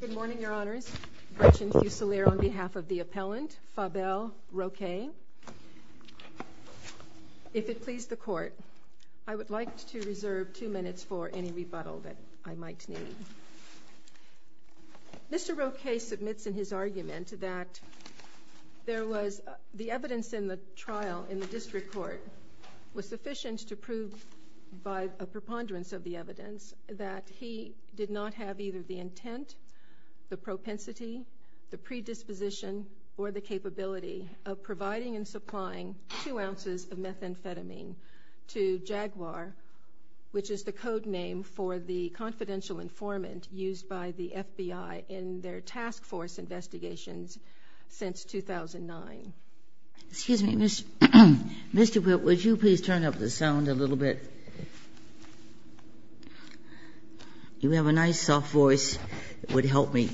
Good morning, Your Honors. Gretchen Fuselier on behalf of the appellant, Fabel Roque. If it please the Court, I would like to reserve two minutes for any rebuttal that I might need. Mr. Roque submits in his argument that there was the evidence in the trial in the FBI did not have either the intent, the propensity, the predisposition, or the capability of providing and supplying two ounces of methamphetamine to Jaguar, which is the code name for the confidential informant used by the FBI in their task force investigations since 2009. Excuse me, Mr. Whit, would you please turn up the sound a little bit? You have a nice soft voice. It would help me.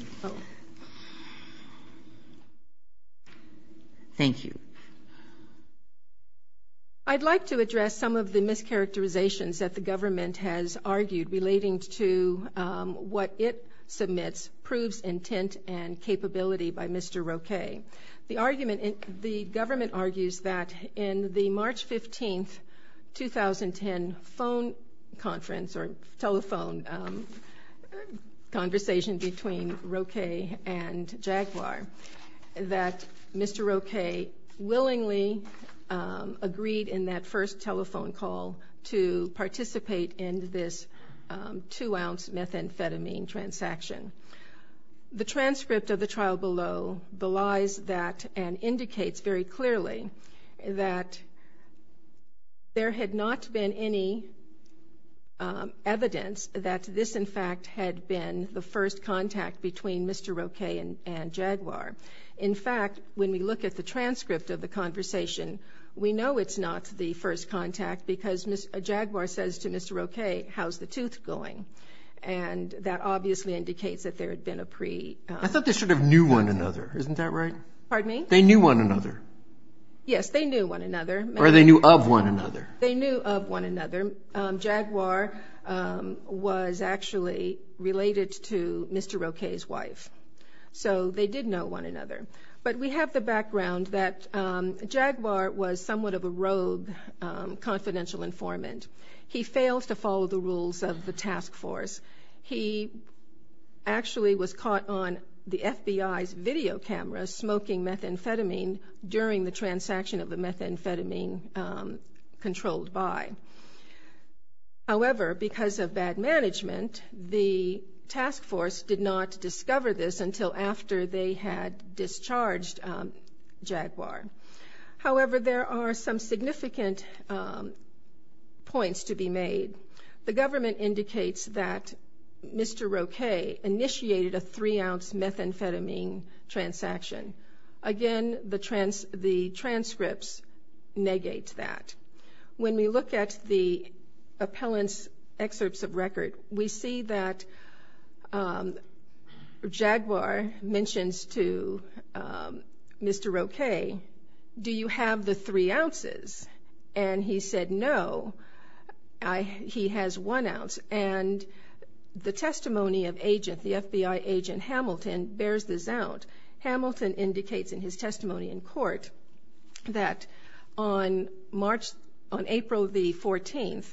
Thank you. I'd like to address some of the mischaracterizations that the government has argued relating to what it submits proves intent and capability by Mr. Roque. The government argues that in the March 15, 2010 telephone conversation between Roque and Jaguar, that Mr. Roque willingly agreed in that first telephone call to participate in this two-ounce methamphetamine transaction. The transcript of the trial below belies that and indicates very clearly that there had not been any evidence that this, in fact, had been the first contact between Mr. Roque and Jaguar. In fact, when we look at the transcript of the conversation, we know it's not the first contact because Jaguar says to Mr. Roque, how's the tooth going? And that obviously indicates that there had been a pre- I thought they sort of knew one another. Isn't that right? Pardon me? They knew one another. Yes, they knew one another. Or they knew of one another. They knew of one another. Jaguar was actually related to Mr. Roque's wife, so they did know one another. But we have the background that Jaguar was somewhat of a rogue confidential informant. He fails to follow the rules of the task force. He actually was caught on the FBI's video camera smoking methamphetamine during the transaction of the methamphetamine controlled by. However, because of bad management, the task force did not discover this until after they had discharged Jaguar. However, there are some significant points to be made. The government indicates that Mr. Roque initiated a three-ounce methamphetamine transaction. Again, the transcripts negate that. When we look at the appellant's excerpts of record, we see that Jaguar mentions to Mr. Roque, do you have the three ounces? And he said, no, he has one ounce. And the testimony of agent, the FBI agent Hamilton, bears this out. Hamilton indicates in his testimony in court that on April the 14th,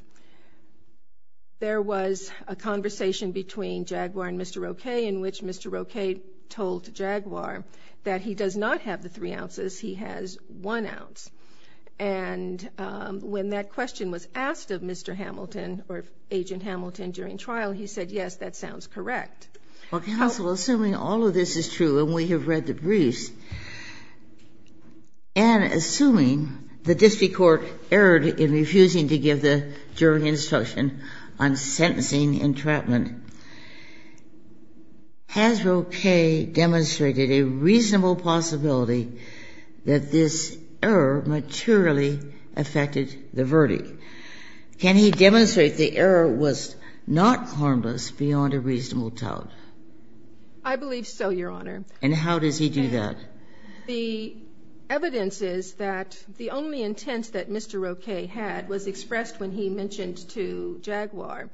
there was a conversation between Jaguar and Mr. Roque, in which Mr. Roque told Jaguar that he does not have the three ounces, he has one ounce. And when that question was asked of Mr. Hamilton or agent Hamilton during trial, he said, yes, that sounds correct. Well, counsel, assuming all of this is true and we have read the briefs, and assuming the district court erred in refusing to give the jury instruction on sentencing entrapment, has Roque demonstrated a reasonable possibility that this error materially affected the verdict? Can he demonstrate the error was not harmless beyond a reasonable doubt? I believe so, Your Honor. And how does he do that? The evidence is that the only intent that Mr. Roque had was expressed when he mentioned to Jaguar,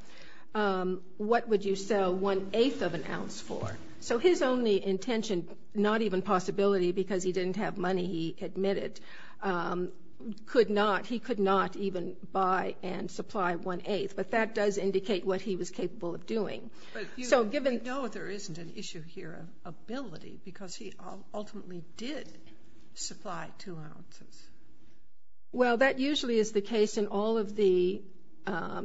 what would you sell one-eighth of an ounce for? So his only intention, not even possibility because he didn't have money, he admitted, could not, he could not even buy and supply one-eighth. But that does indicate what he was capable of doing. But we know there isn't an issue here of ability because he ultimately did supply two ounces. Well, that usually is the case in all of the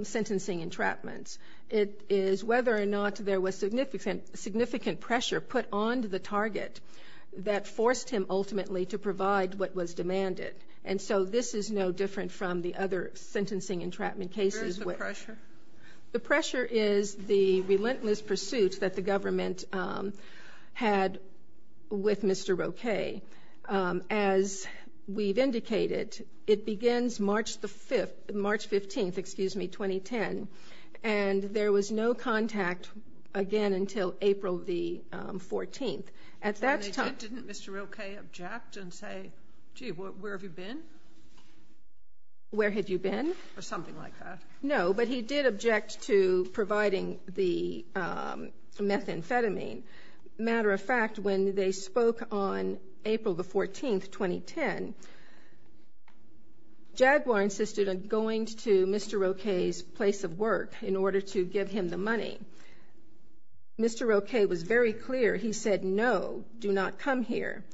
sentencing entrapments. It is whether or not there was significant pressure put onto the target that forced him ultimately to provide what was demanded. And so this is no different from the other sentencing entrapment cases. Where is the pressure? The pressure is the relentless pursuit that the government had with Mr. Roque. As we've indicated, it begins March the 5th, March 15th, excuse me, 2010, and there was no contact again until April the 14th. Didn't Mr. Roque object and say, gee, where have you been? Where have you been? Or something like that. No, but he did object to providing the methamphetamine. Matter of fact, when they spoke on April the 14th, 2010, Jaguar insisted on going to Mr. Roque's place of work in order to give him the money. Mr. Roque was very clear. He said, no, do not come here.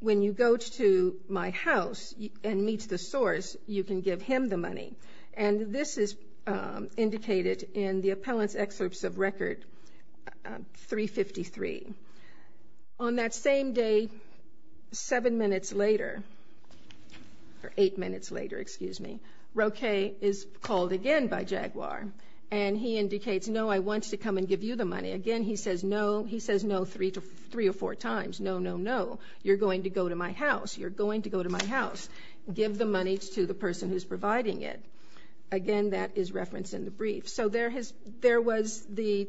When you go to my house and meet the source, you can give him the money. And this is indicated in the appellant's excerpts of Record 353. On that same day, seven minutes later, or eight minutes later, excuse me, Roque is called again by Jaguar. And he indicates, no, I want to come and give you the money. Again, he says no three or four times. No, no, no. You're going to go to my house. You're going to go to my house. Give the money to the person who's providing it. Again, that is referenced in the brief. So there was the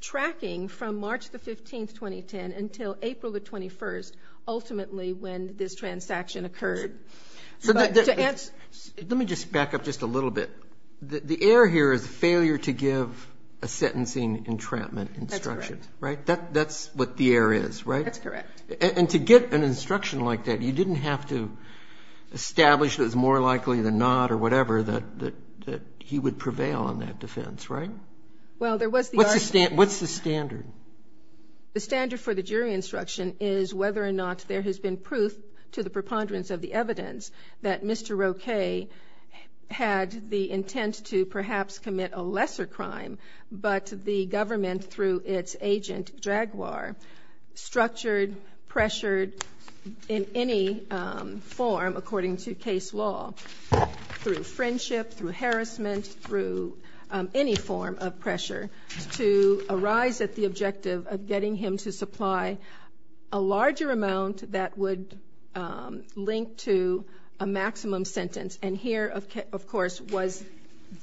tracking from March the 15th, 2010, until April the 21st, ultimately when this transaction occurred. Let me just back up just a little bit. The error here is the failure to give a sentencing entrapment instruction. That's correct. Right? That's what the error is, right? That's correct. And to get an instruction like that, you didn't have to establish that it was more likely than not or whatever that he would prevail on that defense, right? Well, there was the argument. What's the standard? The standard for the jury instruction is whether or not there has been proof to the preponderance of the evidence that Mr. Roquet had the intent to perhaps commit a lesser crime, but the government, through its agent, Dragoire, structured, pressured, in any form, according to case law, through friendship, through harassment, through any form of pressure, to arise at the objective of getting him to supply a larger amount that would link to a maximum sentence. And here, of course, was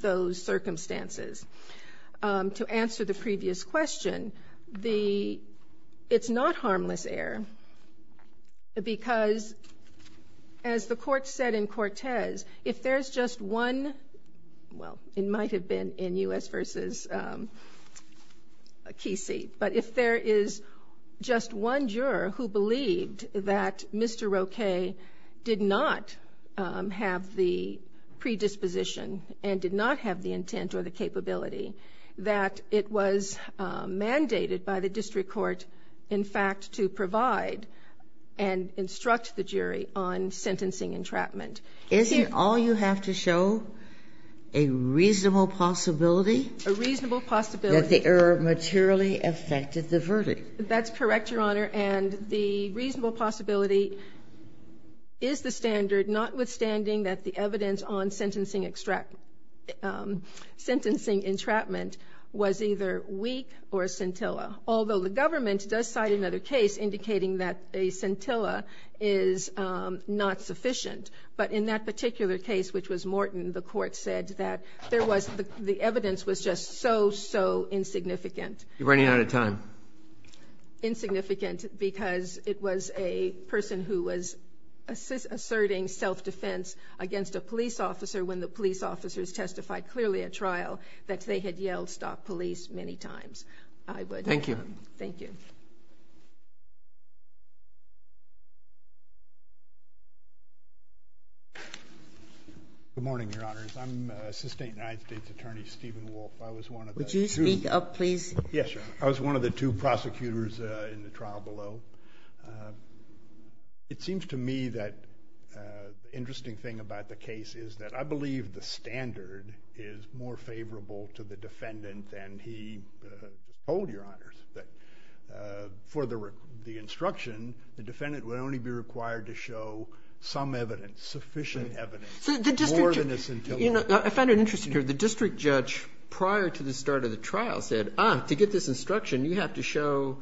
those circumstances. To answer the previous question, it's not harmless error because, as the court said in Cortez, if there's just one, well, it might have been in U.S. v. Casey, but if there is just one juror who believed that Mr. Roquet did not have the predisposition and did not have the intent or the capability, that it was mandated by the district court, in fact, to provide and instruct the jury on sentencing entrapment. Isn't all you have to show a reasonable possibility? A reasonable possibility. That the error materially affected the verdict. That's correct, Your Honor, and the reasonable possibility is the standard, notwithstanding that the evidence on sentencing entrapment was either weak or scintilla, although the government does cite another case indicating that a scintilla is not sufficient. But in that particular case, which was Morton, the court said that the evidence was just so, so insignificant. You're running out of time. Insignificant because it was a person who was asserting self-defense against a police officer when the police officers testified clearly at trial that they had yelled, I would. Thank you. Thank you. Good morning, Your Honors. I'm Assistant United States Attorney Stephen Wolf. I was one of the two. Would you speak up, please? Yes, I was one of the two prosecutors in the trial below. It seems to me that the interesting thing about the case is that I believe the standard is more favorable to the defendant than he told, Your Honors, that for the instruction, the defendant would only be required to show some evidence, sufficient evidence, more than a scintilla. I find it interesting here. The district judge prior to the start of the trial said, ah, to get this instruction, you have to show,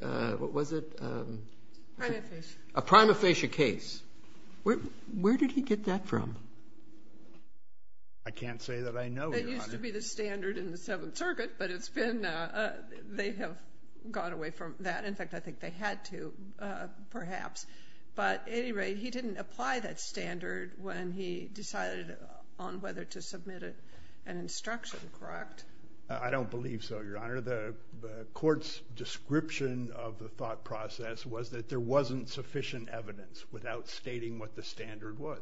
what was it? Prima facie. A prima facie case. Where did he get that from? I can't say that I know, Your Honor. That used to be the standard in the Seventh Circuit, but it's been, they have gone away from that. In fact, I think they had to, perhaps. But at any rate, he didn't apply that standard when he decided on whether to submit an instruction, correct? I don't believe so, Your Honor. The court's description of the thought process was that there wasn't sufficient evidence without stating what the standard was.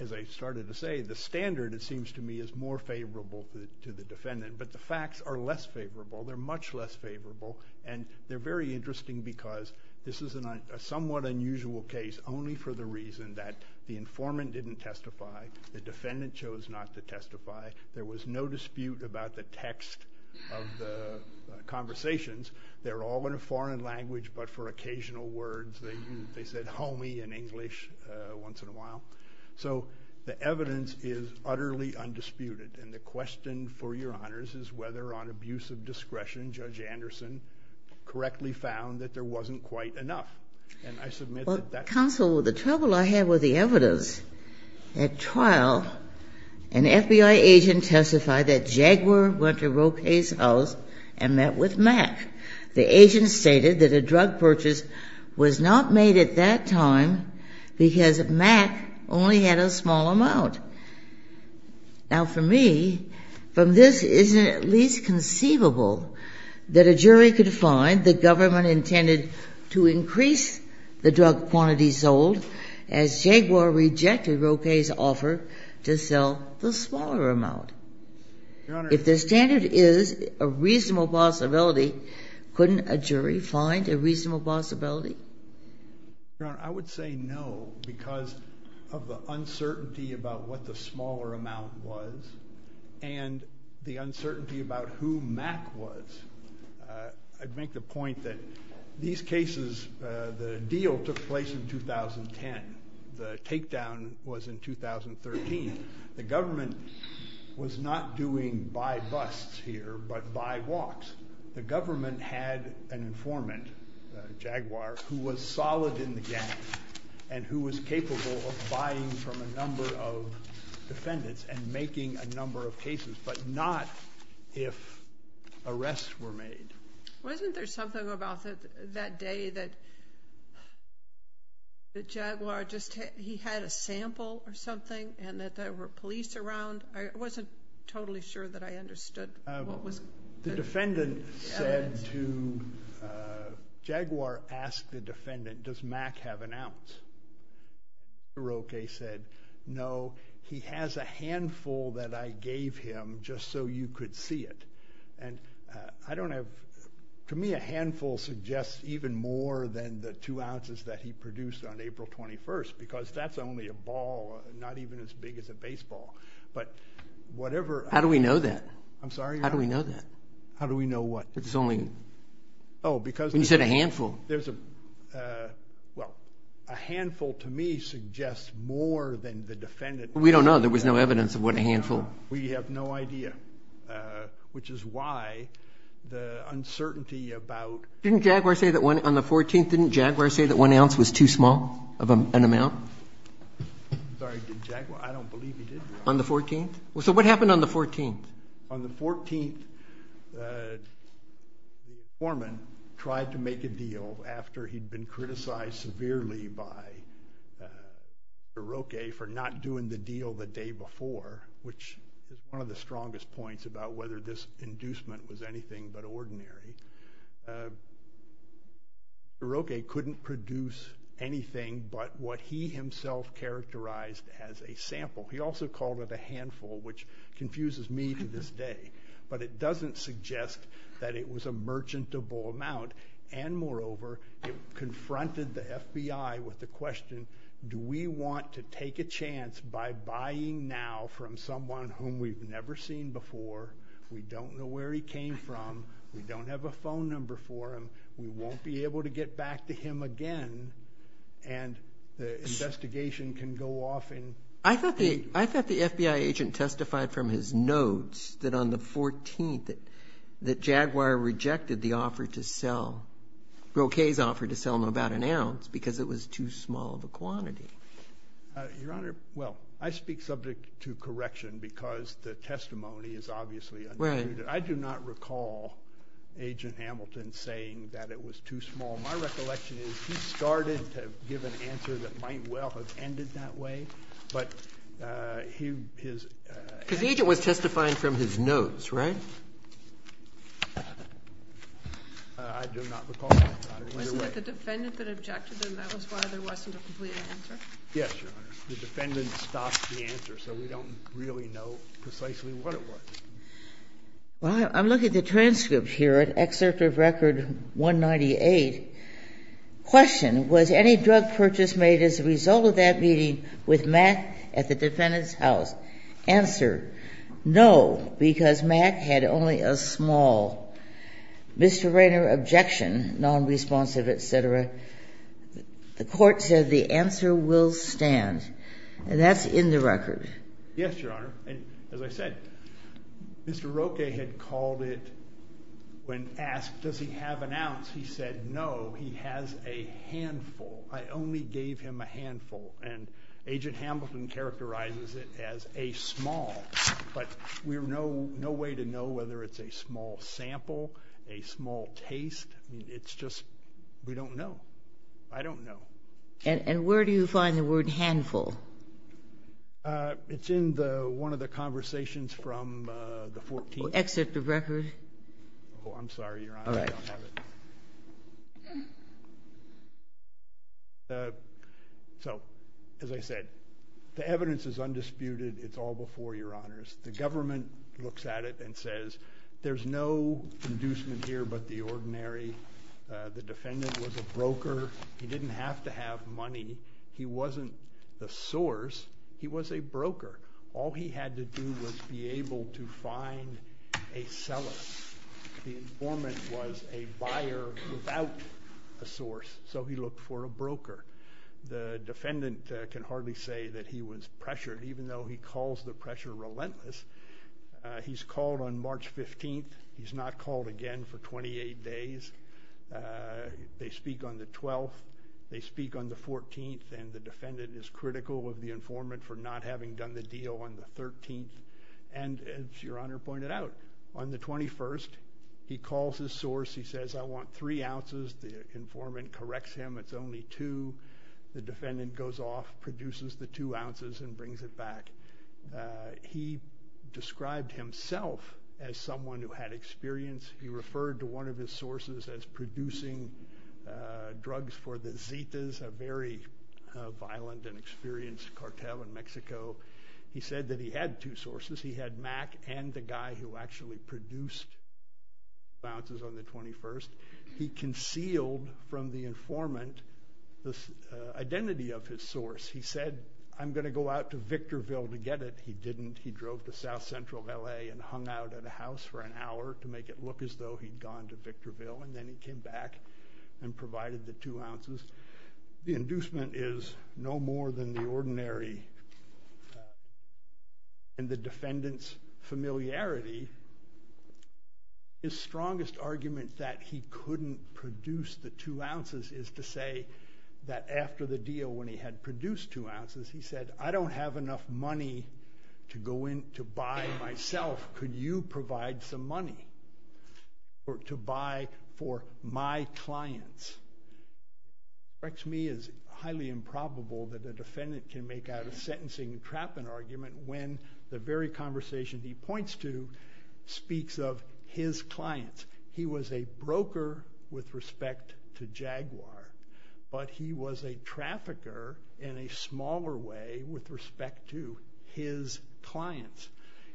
As I started to say, the standard, it seems to me, is more favorable to the defendant, but the facts are less favorable. They're much less favorable, and they're very interesting because this is a somewhat unusual case, only for the reason that the informant didn't testify, the defendant chose not to testify, there was no dispute about the text of the conversations. They're all in a foreign language, but for occasional words. They said homie in English once in a while. So the evidence is utterly undisputed, and the question for Your Honors is whether, on abuse of discretion, Judge Anderson correctly found that there wasn't quite enough. And I submit that that's true. Counsel, the trouble I have with the evidence, at trial, an FBI agent testified that Jaguar went to Roque's house and met with Mack. The agent stated that a drug purchase was not made at that time because Mack only had a small amount. Now, for me, from this, it isn't at least conceivable that a jury could find the government intended to increase the drug quantity sold as Jaguar rejected Roque's offer to sell the smaller amount. If the standard is a reasonable possibility, couldn't a jury find a reasonable possibility? Your Honor, I would say no because of the uncertainty about what the smaller amount was and the uncertainty about who Mack was. I'd make the point that these cases, the deal took place in 2010. The takedown was in 2013. The government was not doing buy busts here but buy walks. The government had an informant, Jaguar, who was solid in the gang and who was capable of buying from a number of defendants and making a number of cases but not if arrests were made. Wasn't there something about that day that Jaguar just, he had a sample or something and that there were police around? I wasn't totally sure that I understood. The defendant said to, Jaguar asked the defendant, does Mack have an ounce? Roque said, no, he has a handful that I gave him just so you could see it. I don't have, to me a handful suggests even more than the two ounces that he produced on April 21st because that's only a ball, not even as big as a baseball. How do we know that? I'm sorry, Your Honor. How do we know that? How do we know what? It's only, you said a handful. Well, a handful to me suggests more than the defendant. We don't know. There was no evidence of what a handful. We have no idea, which is why the uncertainty about. Didn't Jaguar say that on the 14th, didn't Jaguar say that one ounce was too small of an amount? I'm sorry, did Jaguar? I don't believe he did, Your Honor. On the 14th? So what happened on the 14th? On the 14th, the informant tried to make a deal after he'd been criticized severely by Roque for not doing the deal the day before, which is one of the strongest points about whether this inducement was anything but ordinary. Roque couldn't produce anything but what he himself characterized as a sample. He also called it a handful, which confuses me to this day, but it doesn't suggest that it was a merchantable amount, and moreover, it confronted the FBI with the question, do we want to take a chance by buying now from someone whom we've never seen before, we don't know where he came from, we don't have a phone number for him, we won't be able to get back to him again, and the investigation can go off in... I thought the FBI agent testified from his notes that on the 14th that Jaguar rejected the offer to sell, Roque's offer to sell about an ounce, because it was too small of a quantity. Your Honor, well, I speak subject to correction because the testimony is obviously undisputed. I do not recall Agent Hamilton saying that it was too small. My recollection is he started to give an answer that might well have ended that way, but his... I do not recall that. I wonder why. Isn't it the defendant that objected and that was why there wasn't a complete answer? Yes, Your Honor. The defendant stopped the answer, so we don't really know precisely what it was. Well, I'm looking at the transcript here at Excerpt of Record 198. Question. Was any drug purchase made as a result of that meeting with Mack at the defendant's house? Answer. No, because Mack had only a small. Mr. Rayner objection, nonresponsive, et cetera. The court said the answer will stand, and that's in the record. Yes, Your Honor, and as I said, Mr. Roque had called it when asked, does he have an ounce? He said no, he has a handful. I only gave him a handful, and Agent Hamilton characterizes it as a small, but we have no way to know whether it's a small sample, a small taste. It's just we don't know. I don't know. And where do you find the word handful? It's in one of the conversations from the 14th. Excerpt of Record. I'm sorry, Your Honor, I don't have it. All right. So, as I said, the evidence is undisputed. It's all before Your Honors. The government looks at it and says there's no inducement here but the ordinary. The defendant was a broker. He didn't have to have money. He wasn't the source. He was a broker. All he had to do was be able to find a seller. The informant was a buyer without a source, so he looked for a broker. The defendant can hardly say that he was pressured, even though he calls the pressure relentless. He's called on March 15th. He's not called again for 28 days. They speak on the 12th. They speak on the 14th, and the defendant is critical of the informant for not having done the deal on the 13th. And, as Your Honor pointed out, on the 21st, he calls his source. He says, I want three ounces. The informant corrects him. It's only two. The defendant goes off, produces the two ounces, and brings it back. He described himself as someone who had experience. He referred to one of his sources as producing drugs for the Zetas, a very violent and experienced cartel in Mexico. He said that he had two sources. He had Mac and the guy who actually produced the two ounces on the 21st. He concealed from the informant the identity of his source. He said, I'm going to go out to Victorville to get it. He didn't. He drove to south-central L.A. and hung out at a house for an hour to make it look as though he'd gone to Victorville, and then he came back and provided the two ounces. The inducement is no more than the ordinary. In the defendant's familiarity, his strongest argument that he couldn't produce the two ounces is to say that after the deal, when he had produced two ounces, he said, I don't have enough money to go in to buy myself. Could you provide some money to buy for my clients? It strikes me as highly improbable that a defendant can make out a sentencing and trapping argument when the very conversation he points to speaks of his clients. He was a broker with respect to Jaguar, but he was a trafficker in a smaller way with respect to his clients.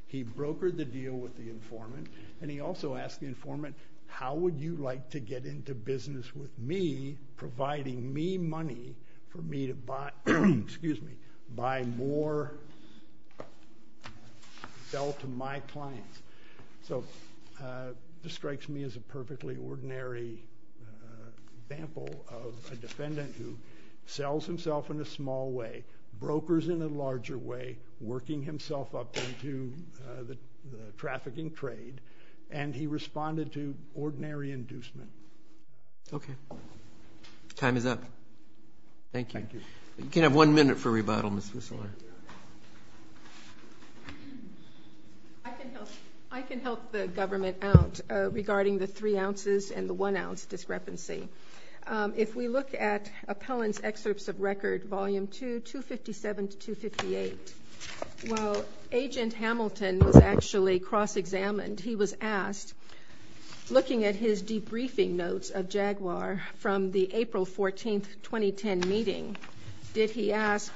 He brokered the deal with the informant, and he also asked the informant, how would you like to get into business with me, providing me money for me to buy more, sell to my clients? So this strikes me as a perfectly ordinary example of a defendant who sells himself in a small way, brokers in a larger way, working himself up into the trafficking trade, and he responded to ordinary inducement. Okay. Time is up. Thank you. Thank you. You can have one minute for rebuttal, Ms. Whistler. I can help the government out regarding the three ounces and the one ounce discrepancy. If we look at Appellant's Excerpts of Record, Volume 2, 257 to 258, while Agent Hamilton was actually cross-examined, he was asked, looking at his debriefing notes of Jaguar from the April 14, 2010 meeting, did he ask,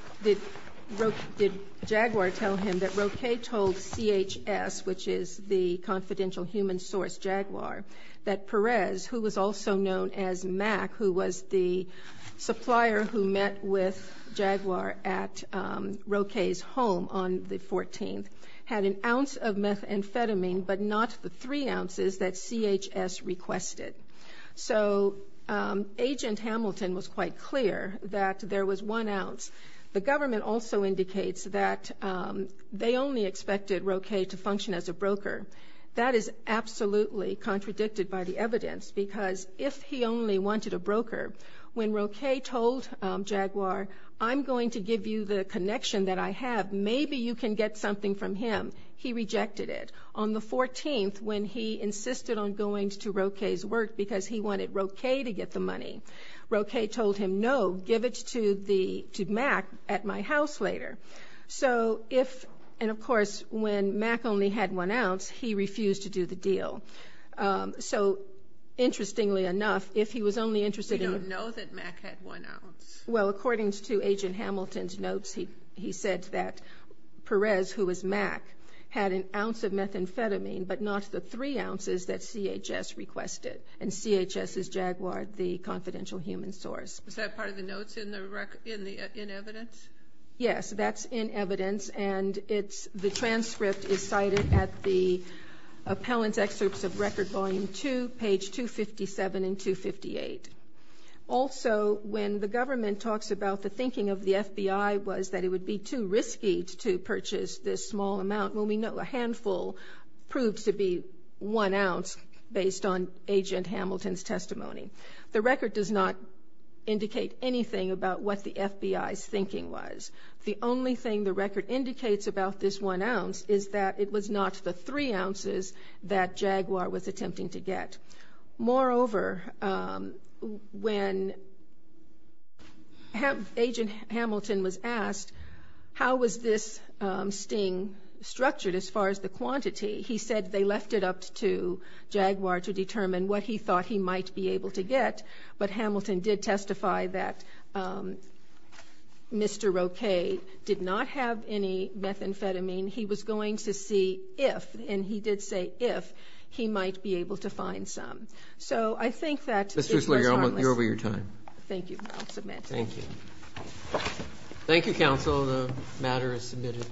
did Jaguar tell him that Roque told CHS, which is the confidential human source, Jaguar, that Perez, who was also known as Mac, who was the supplier who met with Jaguar at Roque's home on the 14th, had an ounce of methamphetamine but not the three ounces that CHS requested. So Agent Hamilton was quite clear that there was one ounce. The government also indicates that they only expected Roque to function as a broker. That is absolutely contradicted by the evidence because if he only wanted a broker, when Roque told Jaguar, I'm going to give you the connection that I have, maybe you can get something from him, he rejected it. On the 14th, when he insisted on going to Roque's work because he wanted Roque to get the money, Roque told him, no, give it to Mac at my house later. And, of course, when Mac only had one ounce, he refused to do the deal. So, interestingly enough, if he was only interested in- We don't know that Mac had one ounce. Well, according to Agent Hamilton's notes, he said that Perez, who was Mac, had an ounce of methamphetamine but not the three ounces that CHS requested, and CHS is Jaguar, the confidential human source. Is that part of the notes in evidence? Yes, that's in evidence, and the transcript is cited at the appellant's excerpts of Record Volume 2, page 257 and 258. Also, when the government talks about the thinking of the FBI was that it would be too risky to purchase this small amount, well, we know a handful proved to be one ounce based on Agent Hamilton's testimony. The record does not indicate anything about what the FBI's thinking was. The only thing the record indicates about this one ounce is that it was not the three ounces that Jaguar was attempting to get. Moreover, when Agent Hamilton was asked how was this sting structured as far as the quantity, he said they left it up to Jaguar to determine what he thought he might be able to get, but Hamilton did testify that Mr. Roquet did not have any methamphetamine. He was going to see if, and he did say if, he might be able to find some. So I think that is- Ms. Duesley, you're over your time. Thank you. I'll submit. Thank you. Thank you, counsel. The matter is submitted.